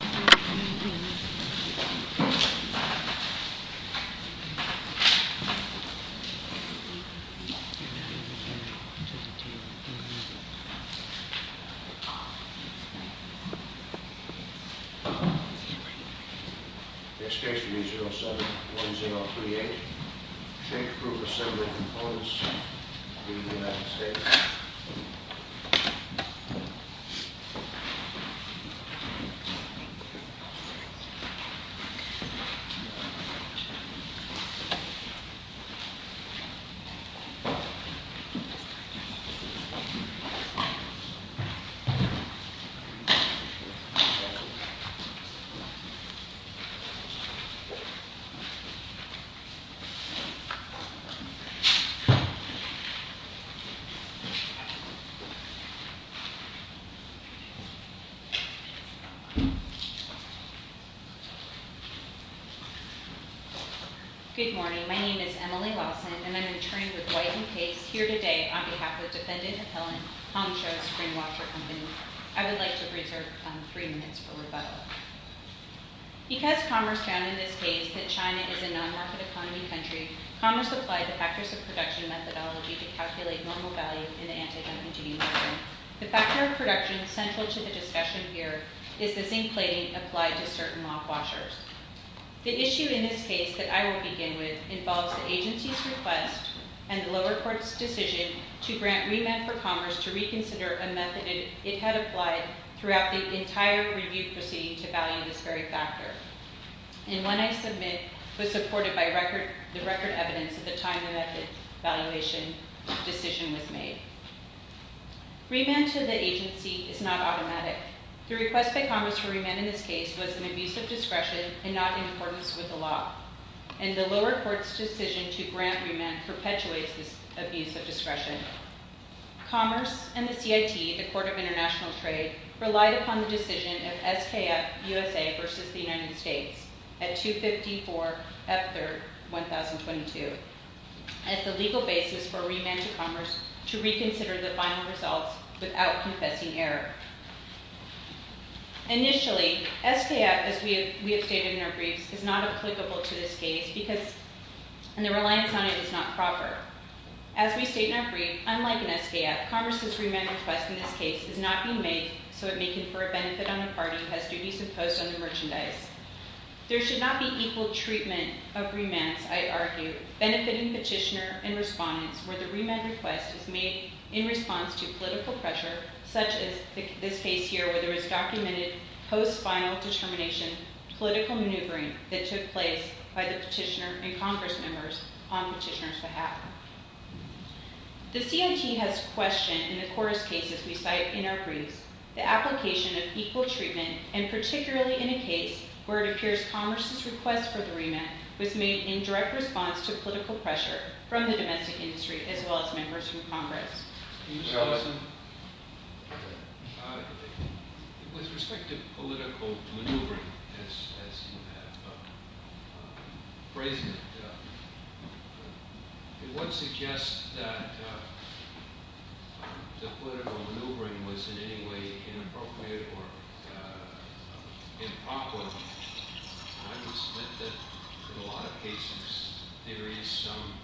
Next case will be 07-1038. Shake approved assembly of components in the United States. Next case will be 07-1038. Good morning, my name is Emily Lawson and I am in turning with White and Case here today on behalf of defendant appellant, Hong Shou's Spring-Watcher Company. I would like to reserve 3 minutes for rebuttal. Because commerce found in this case that China is a non-market economy country, commerce applied the factors of production methodology to calculate normal value in the anti-democracy model. The factor of production central to the discussion here is the zinc plating applied to certain lock washers. The issue in this case that I will begin with involves the agency's request and the lower court's decision to grant remand for commerce to reconsider a method it had applied throughout the entire review proceeding to value this very factor. And one I submit was supported by the record evidence at the time the method valuation decision was made. Remand to the agency is not automatic. The request by commerce for remand in this case was an abuse of discretion and not in accordance with the law. And the lower court's decision to grant remand perpetuates this abuse of discretion. Commerce and the CIT, the Court of International Trade, relied upon the decision of SKF USA versus the United States at 2-54-F-3-1022 as the legal basis for remand to commerce to reconsider the final results without confessing error. Initially, SKF, as we have stated in our briefs, is not applicable to this case because the reliance on it is not proper. As we state in our brief, unlike an SKF, commerce's remand request in this case is not being made so it may confer a benefit on a party who has duties imposed on the merchandise. There should not be equal treatment of remands, I argue, benefiting petitioner and respondents where the remand request is made in response to political pressure, such as this case here where there is documented post-final determination political maneuvering that took place by the petitioner and Congress members on petitioner's behalf. The CIT has questioned in the court's cases we cite in our briefs the application of equal treatment, and particularly in a case where it appears commerce's request for the remand was made in direct response to political pressure from the domestic industry as well as members from Congress. Can you show us a – with respect to political maneuvering, as you have phrased it, it would suggest that the political maneuvering was in any way inappropriate or improper. I would submit that in a lot of cases there is some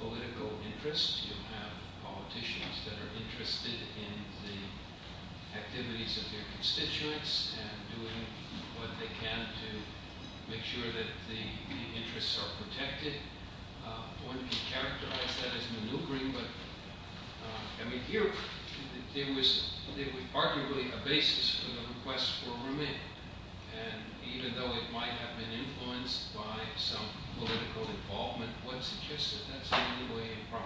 political interest. You have politicians that are interested in the activities of their constituents and doing what they can to make sure that the interests are protected. One could characterize that as maneuvering, but I mean here there was arguably a basis for the request for remand. And even though it might have been influenced by some political involvement, what suggests that that's in any way improper?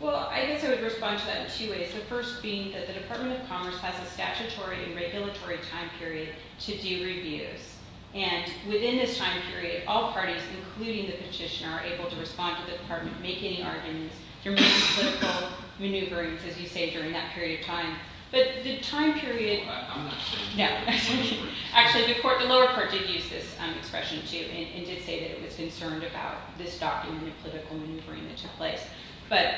Well, I guess I would respond to that in two ways. The first being that the Department of Commerce has a statutory and regulatory time period to do reviews. And within this time period, all parties, including the petitioner, are able to respond to the department, make any arguments. You're making political maneuverings, as you say, during that period of time. But the time period – actually, the lower court did use this expression, too, and did say that it was concerned about this document of political maneuvering that took place. But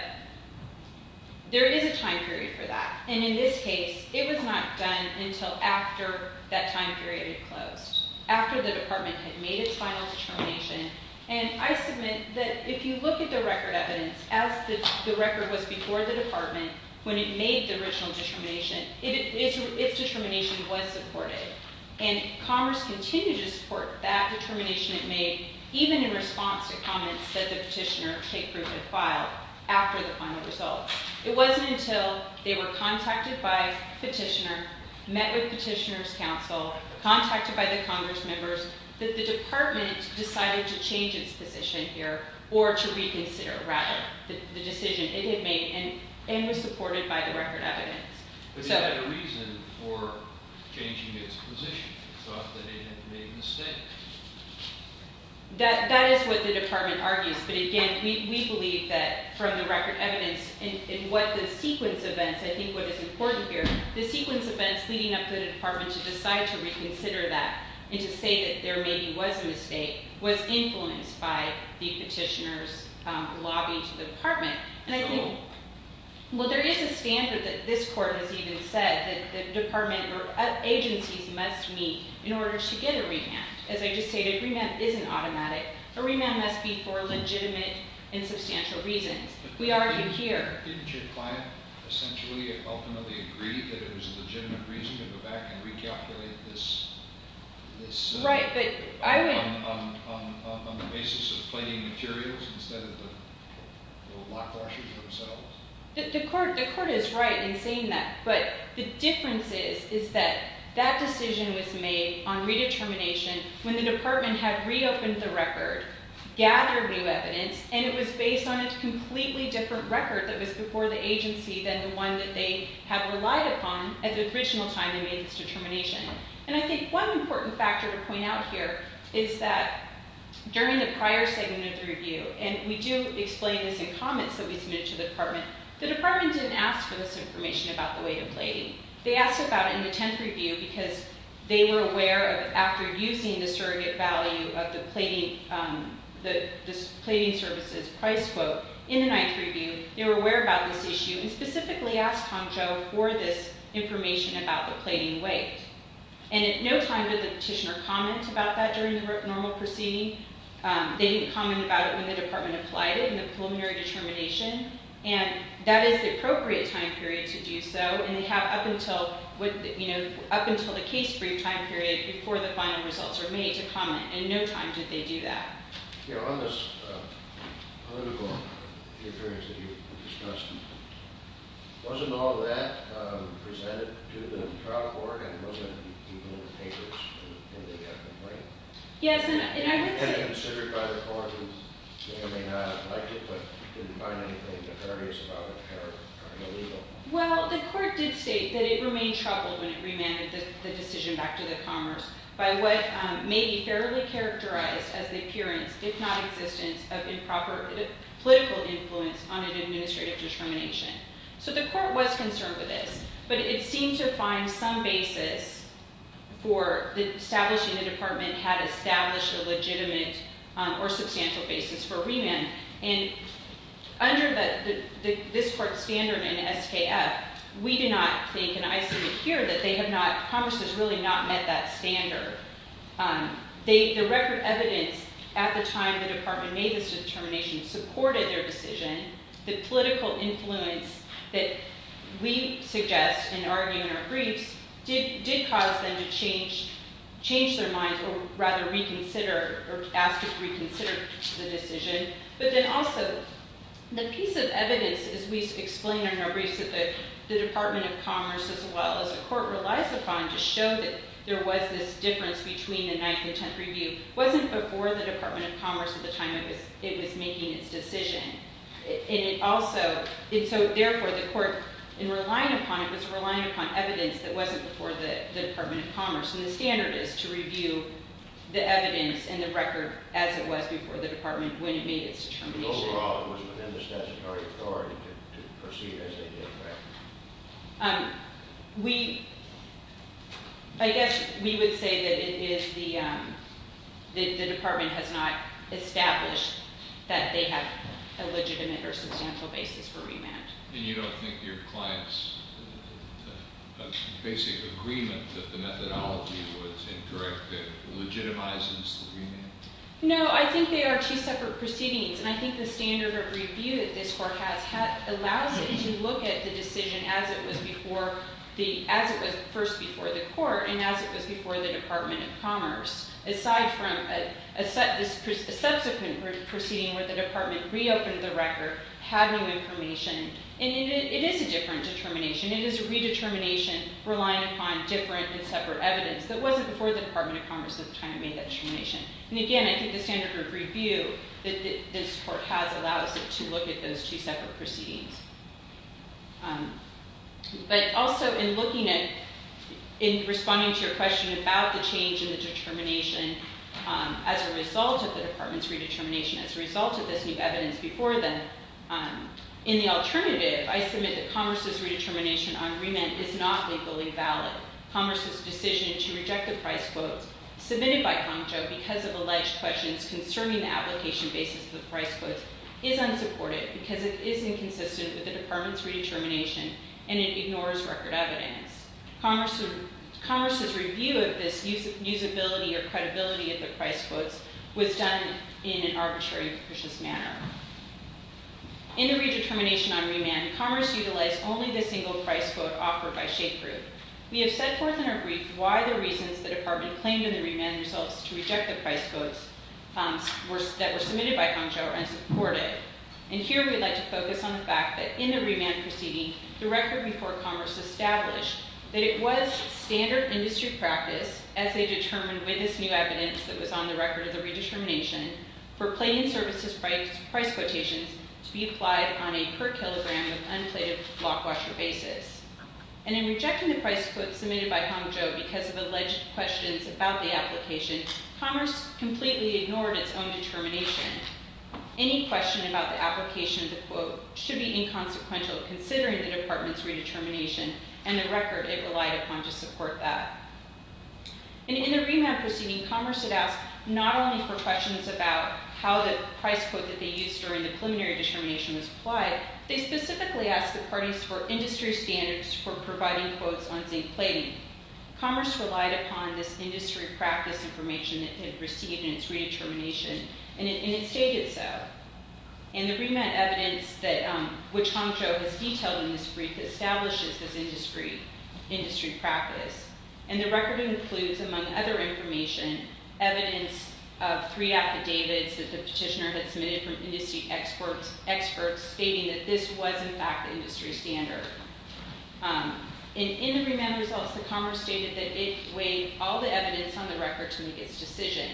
there is a time period for that. And in this case, it was not done until after that time period had closed, after the department had made its final determination. And I submit that if you look at the record evidence, as the record was before the department, when it made the original determination, its determination was supported. And Commerce continued to support that determination it made, even in response to comments that the petitioner, Kate Brink, had filed after the final result. It wasn't until they were contacted by the petitioner, met with the petitioner's counsel, contacted by the Congress members, that the department decided to change its position here, or to reconsider, rather, the decision it had made, and was supported by the record evidence. But it had a reason for changing its position. It thought that it had made a mistake. That is what the department argues. But again, we believe that from the record evidence, in what the sequence of events – and to say that there maybe was a mistake – was influenced by the petitioner's lobbying to the department. And I think – well, there is a standard that this court has even said that the department or agencies must meet in order to get a remand. As I just stated, a remand isn't automatic. A remand must be for legitimate and substantial reasons. We argue here – Didn't your client essentially and ultimately agree that it was a legitimate reason to go back and recalculate this on the basis of plating materials instead of the lock washers themselves? The court is right in saying that. But the difference is that that decision was made on redetermination when the department had reopened the record, gathered new evidence, and it was based on a completely different record that was before the agency than the one that they had relied upon at the original time they made this determination. And I think one important factor to point out here is that during the prior segment of the review – and we do explain this in comments that we submitted to the department – the department didn't ask for this information about the weight of plating. They asked about it in the 10th review because they were aware of, after using the surrogate value of the plating services price quote, in the 9th review, they were aware about this issue and specifically asked Hongzhou for this information about the plating weight. And at no time did the petitioner comment about that during the normal proceeding. They didn't comment about it when the department applied it in the preliminary determination. And that is the appropriate time period to do so. And they have up until the case brief time period before the final results are made to comment. And no time did they do that. You know, on this political appearance that you discussed, wasn't all of that presented to the trial court? And wasn't even in the papers when they made that complaint? Yes, and I would say – And considered by the court, they may or may not have liked it, but didn't find anything nefarious about it or illegal. Well, the court did state that it remained troubled when it remanded the decision back to the commerce by what may be fairly characterized as the appearance, if not existence, of improper political influence on an administrative discrimination. So the court was concerned with this. But it seemed to find some basis for establishing the department had established a legitimate or substantial basis for remand. And under this court's standard in SKF, we do not think, and I see it here, that they have not – commerce has really not met that standard. The record evidence at the time the department made this determination supported their decision. The political influence that we suggest in arguing our briefs did cause them to change their minds, or rather reconsider or ask to reconsider the decision. But then also, the piece of evidence, as we explain in our briefs, that the Department of Commerce, as well as the court, relies upon to show that there was this difference between the Ninth and Tenth Review, wasn't before the Department of Commerce at the time it was making its decision. And it also – and so, therefore, the court, in relying upon it, was relying upon evidence that wasn't before the Department of Commerce. And the standard is to review the evidence and the record as it was before the department when it made its determination. But overall, it was within the statutory authority to proceed as they did, correct? We – I guess we would say that it is the – the department has not established that they have a legitimate or substantial basis for remand. And you don't think your client's basic agreement that the methodology was incorrect legitimizes the remand? No, I think they are two separate proceedings. And I think the standard of review that this court has allows it to look at the decision as it was before the – as it was first before the court and as it was before the Department of Commerce. Aside from a subsequent proceeding where the department reopened the record, had new information. And it is a different determination. It is a redetermination relying upon different and separate evidence that wasn't before the Department of Commerce at the time it made that determination. And again, I think the standard of review that this court has allows it to look at those two separate proceedings. But also in looking at – in responding to your question about the change in the determination as a result of the department's redetermination, as a result of this new evidence before them, in the alternative, I submit that Commerce's redetermination on remand is not legally valid. Commerce's decision to reject the price quotes submitted by Concho because of alleged questions concerning the application basis of the price quotes is unsupported because it is inconsistent with the department's redetermination and it ignores record evidence. Commerce's review of this usability or credibility of the price quotes was done in an arbitrary and capricious manner. In the redetermination on remand, Commerce utilized only the single price quote offered by Schafer. We have set forth in our brief why the reasons the department claimed in the remand themselves to reject the price quotes that were submitted by Concho are unsupported. And here we would like to focus on the fact that in the remand proceeding, the record before Commerce established that it was standard industry practice, as they determined with this new evidence that was on the record of the redetermination, for plain services price quotations to be applied on a per kilogram with unplated block washer basis. And in rejecting the price quotes submitted by Concho because of alleged questions about the application, Commerce completely ignored its own determination. Any question about the application of the quote should be inconsequential considering the department's redetermination and the record it relied upon to support that. In the remand proceeding, Commerce had asked not only for questions about how the price quote that they used during the preliminary determination was applied, they specifically asked the parties for industry standards for providing quotes on zinc plating. Commerce relied upon this industry practice information it had received in its redetermination, and it stated so. In the remand evidence which Concho has detailed in this brief establishes this industry practice, and the record includes, among other information, evidence of three affidavits that the petitioner had submitted from industry experts stating that this was in fact the industry standard. In the remand results, the Commerce stated that it weighed all the evidence on the record to make its decision,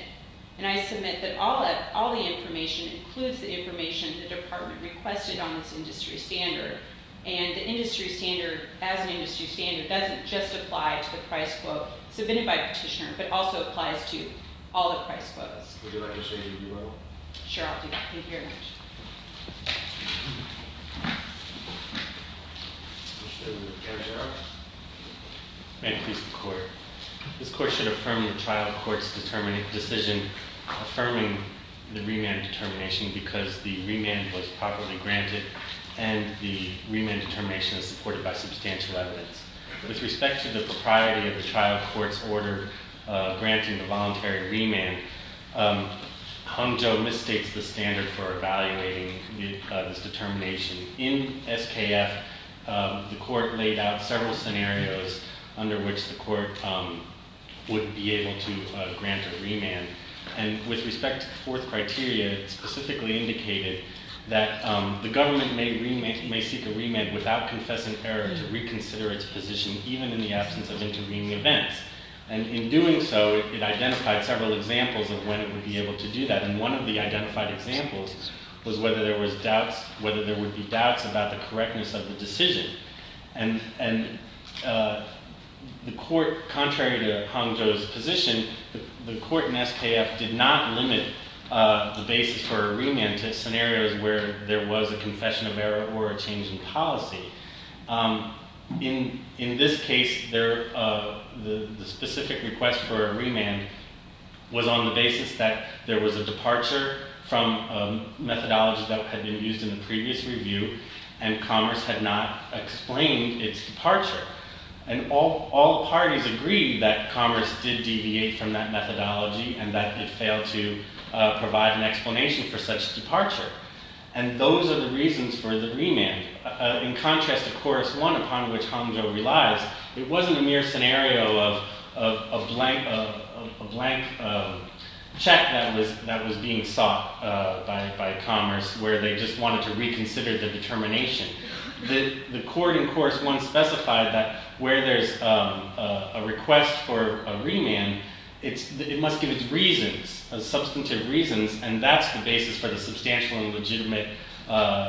and I submit that all the information includes the information the department requested on this industry standard, and the industry standard as an industry standard doesn't just apply to the price quote submitted by the petitioner, but also applies to all the price quotes. Would you like to say anything more? Sure, I'll do that. Thank you very much. May it please the Court. This Court should affirm the trial court's decision affirming the remand determination because the remand was properly granted, and the remand determination is supported by substantial evidence. With respect to the propriety of the trial court's order granting the voluntary remand, Concho misstates the standard for evaluating this determination. In SKF, the Court laid out several scenarios under which the Court would be able to grant a remand, and with respect to the fourth criteria, it specifically indicated that the government may seek a remand without confessing error to reconsider its position even in the absence of intervening events, and in doing so, it identified several examples of when it would be able to do that, and one of the identified examples was whether there would be doubts about the correctness of the decision, and contrary to Concho's position, the Court in SKF did not limit the basis for a remand to scenarios where there was a confession of error or a change in policy. In this case, the specific request for a remand was on the basis that there was a departure from a methodology that had been used in the previous review, and Commerce had not explained its departure, and all parties agreed that Commerce did deviate from that methodology and that it failed to provide an explanation for such departure, and those are the reasons for the remand. In contrast to Chorus 1, upon which Concho relies, it wasn't a mere scenario of a blank check that was being sought by Commerce where they just wanted to reconsider the determination. The Court in Chorus 1 specified that where there's a request for a remand, it must give its reasons, substantive reasons, and that's the basis for the substantial and legitimate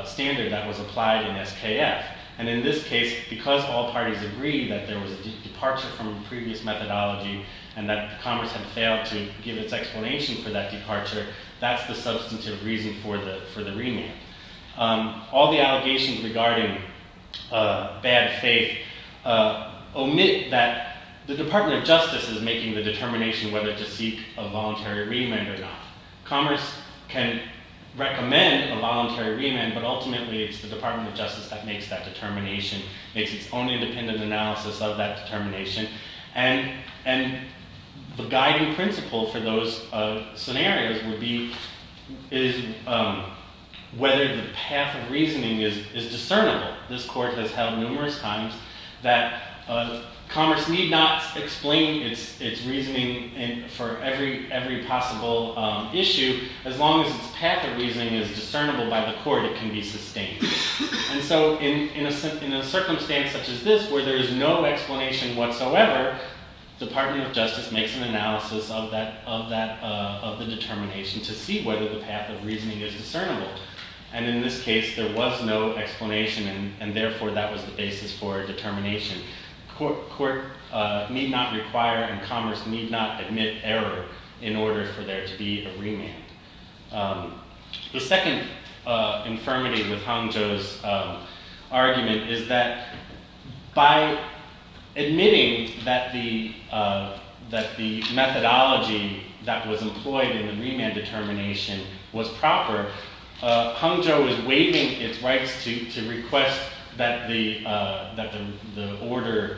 standard that was applied in SKF, and in this case, because all parties agreed that there was a departure from a previous methodology and that Commerce had failed to give its explanation for that departure, that's the substantive reason for the remand. All the allegations regarding bad faith omit that the Department of Justice is making the determination whether to seek a voluntary remand or not. Commerce can recommend a voluntary remand, but ultimately it's the Department of Justice that makes that determination, makes its own independent analysis of that determination, and the guiding principle for those scenarios would be whether the path of reasoning is discernible. This Court has held numerous times that Commerce need not explain its reasoning for every possible issue as long as its path of reasoning is discernible by the Court, it can be sustained. In a circumstance such as this where there is no explanation whatsoever, the Department of Justice makes an analysis of the determination to see whether the path of reasoning is discernible, and in this case, there was no explanation, and therefore that was the basis for determination. The Court need not require and Commerce need not admit error in order for there to be a remand. The second infirmity with Hangzhou's argument is that by admitting that the methodology that was employed in the remand determination was proper, Hangzhou is waiving its rights to request that the order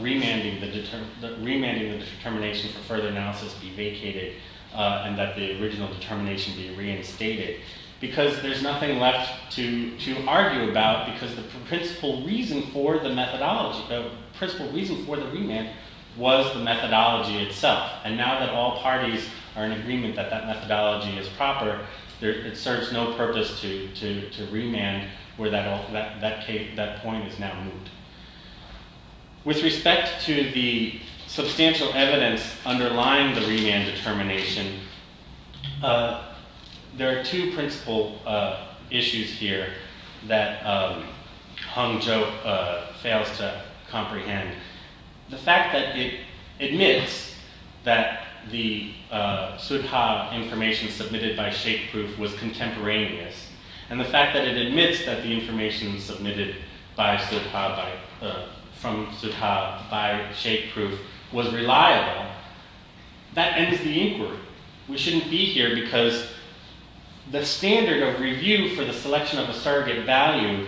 remanding the determination for further analysis be vacated and that the original determination be reinstated, because there's nothing left to argue about because the principal reason for the remand was the methodology itself, and now that all parties are in agreement that that methodology is proper, it serves no purpose to remand where that point is now moved. With respect to the substantial evidence underlying the remand determination, there are two principal issues here that Hangzhou fails to comprehend. The fact that it admits that the Sudha information submitted by ShapeProof was contemporaneous, and the fact that it admits that the information submitted from Sudha by ShapeProof was reliable, that ends the inquiry. We shouldn't be here because the standard of review for the selection of a surrogate value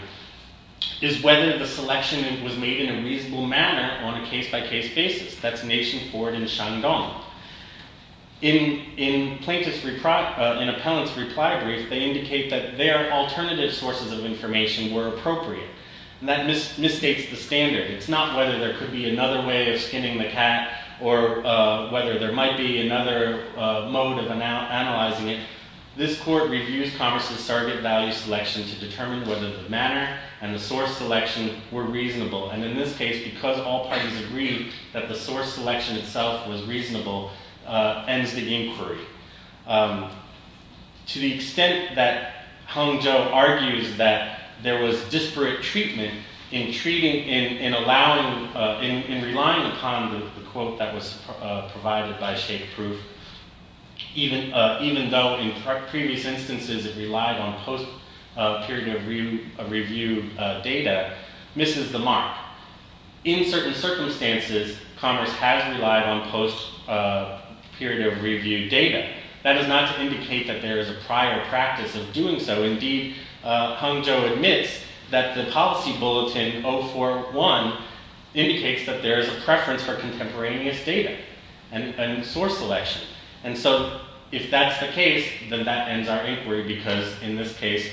is whether the selection was made in a reasonable manner on a case-by-case basis. In Appellant's reply brief, they indicate that their alternative sources of information were appropriate, and that misstates the standard. It's not whether there could be another way of skinning the cat, or whether there might be another mode of analyzing it. This court reviews Congress's surrogate value selection to determine whether the manner and the source selection were reasonable, and in this case, because all parties agreed that the source selection itself was reasonable, ends the inquiry. To the extent that Hangzhou argues that there was disparate treatment in relying upon the quote that was provided by ShapeProof, even though in previous instances it relied on post-period of review data, misses the mark. In certain circumstances, Congress has relied on post-period of review data. That is not to indicate that there is a prior practice of doing so. Indeed, Hangzhou admits that the policy bulletin 041 indicates that there is a preference for contemporaneous data and source selection, and so if that's the case, then that ends our inquiry, because in this case,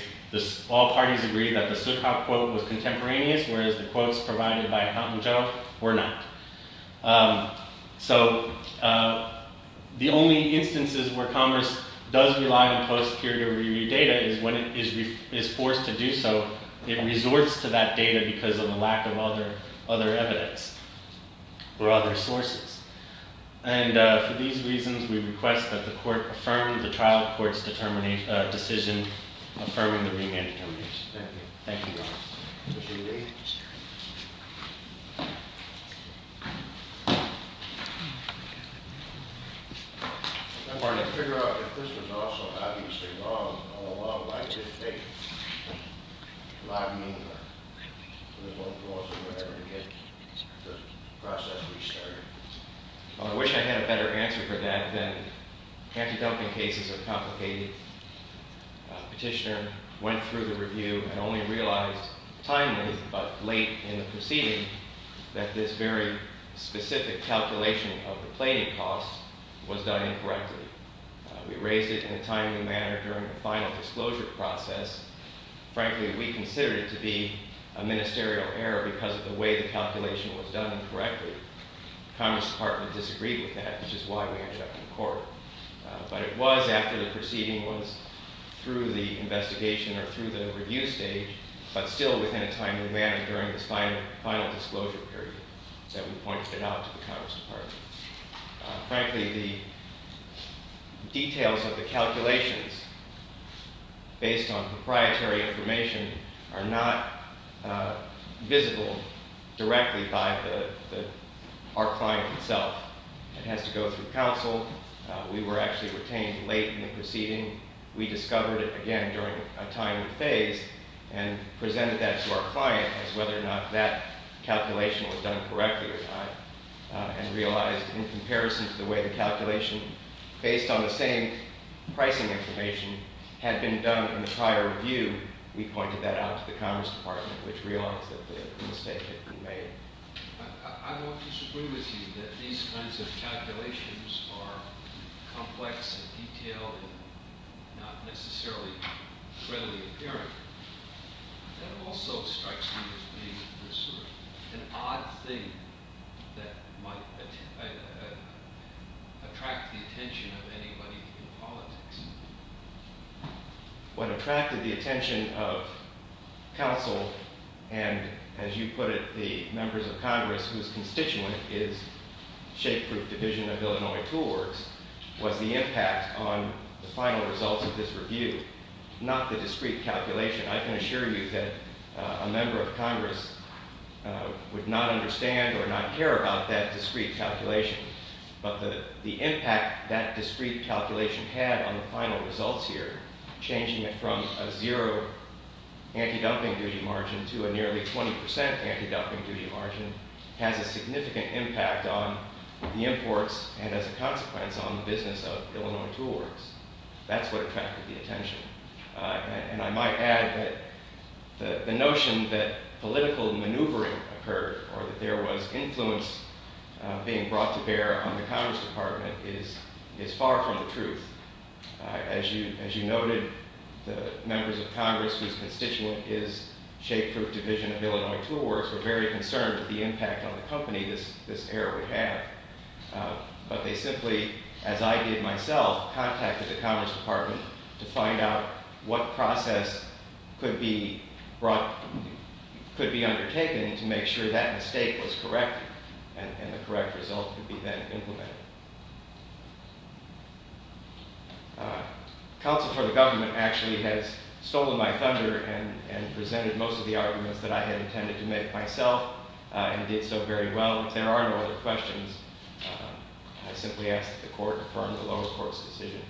all parties agreed that the Suk Hop quote was contemporaneous, whereas the quotes provided by Hangzhou were not. The only instances where Congress does rely on post-period of review data is when it is forced to do so. It resorts to that data because of a lack of other evidence or other sources. And for these reasons, we request that the court affirm the trial court's decision affirming the remand determination. Thank you. Thank you, Your Honor. Mr. Ely? Yes, Your Honor. I wanted to figure out if this was also, obviously, wrong all along. Why did it take a lot of meanwhile? There's no clause or whatever to get the process restarted. Well, I wish I had a better answer for that than anti-dumping cases are complicated. Petitioner went through the review and only realized timely, but late in the proceeding, that this very specific calculation of the plating costs was done incorrectly. We raised it in a timely manner during the final disclosure process. Frankly, we considered it to be a ministerial error because of the way the calculation was done incorrectly. The Congress department disagreed with that, which is why we interrupted the court. But it was after the proceeding was through the investigation or through the review stage, but still within a timely manner during this final disclosure period that we pointed it out to the Congress department. Frankly, the details of the calculations based on proprietary information are not visible directly by our client itself. It has to go through counsel. We were actually retained late in the proceeding. We discovered it, again, during a timely phase and presented that to our client as whether or not that calculation was done correctly or not and realized in comparison to the way the calculation based on the same pricing information had been done in the prior review, we pointed that out to the Congress department, which realized that the mistake had been made. I don't disagree with you that these kinds of calculations are complex and detailed and not necessarily readily apparent. That also strikes me as being an odd thing that might attract the attention of anybody in politics. What attracted the attention of counsel and, as you put it, the members of Congress, whose constituent is Shapeproof Division of Illinois Tool Works, was the impact on the final results of this review, not the discrete calculation. I can assure you that a member of Congress would not understand or not care about that discrete calculation, but the impact that discrete calculation had on the final results here, changing it from a zero anti-dumping duty margin to a nearly 20% anti-dumping duty margin, has a significant impact on the imports and, as a consequence, on the business of Illinois Tool Works. That's what attracted the attention. And I might add that the notion that political maneuvering occurred or that there was influence being brought to bear on the Congress department is far from the truth. As you noted, the members of Congress, whose constituent is Shapeproof Division of Illinois Tool Works, were very concerned with the impact on the company this error would have. But they simply, as I did myself, contacted the Congress department to find out what process could be undertaken to make sure that mistake was corrected and the correct result could be then implemented. Counsel for the government actually has stolen my thunder and presented most of the arguments that I had intended to make myself and did so very well. If there are no other questions, I simply ask that the Court confirm the lower court's decision.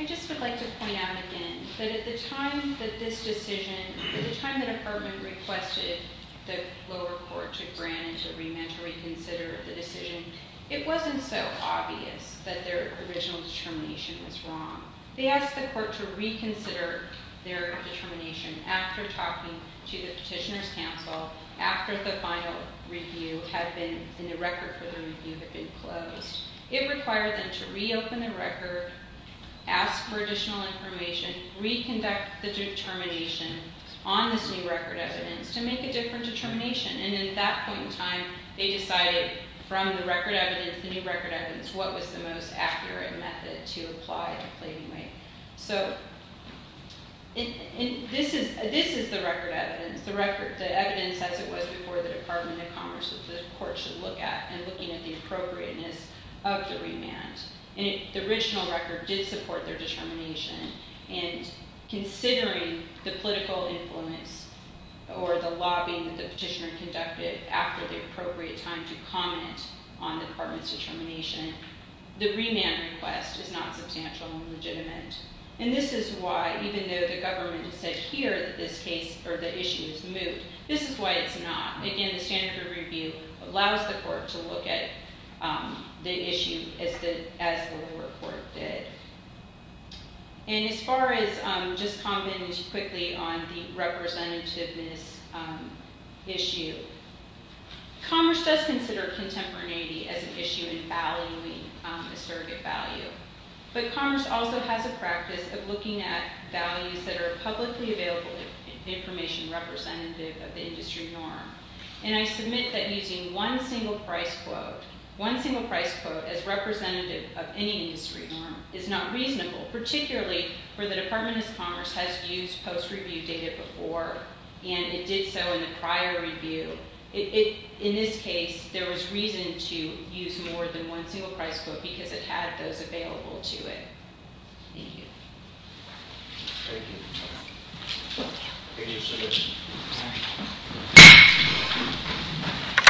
I just would like to point out again that at the time that this decision, at the time the department requested the lower court to grant and to remand to reconsider the decision, it wasn't so obvious that their original determination was wrong. They asked the court to reconsider their determination after talking to the petitioners' counsel after the final review had been and the record for the review had been closed. It required them to reopen the record, ask for additional information, reconduct the determination on this new record evidence to make a different determination. At that point in time, they decided from the record evidence, the new record evidence, what was the most accurate method to apply the pleading weight. This is the record evidence, the evidence as it was before the Department of Commerce that the court should look at and looking at the appropriateness of the remand. The original record did support their determination and considering the political influence or the lobbying that the petitioner conducted after the appropriate time to comment on the department's determination, the remand request is not substantial and legitimate. This is why even though the government said here that this case or the issue is moved, this is why it's not. Again, the standard review allows the court to look at the issue as the lower court did. And as far as just commenting quickly on the representativeness issue, Commerce does consider contemporaneity as an issue in valuing a surrogate value, but Commerce also has a practice of looking at values that are publicly available information representative of the industry norm, and I submit that using one single price quote, one single price quote as representative of any industry norm is not reasonable, particularly for the Department of Commerce has used post-review data before, and it did so in a prior review. In this case, there was reason to use more than one single price quote because it had those available to it. Thank you.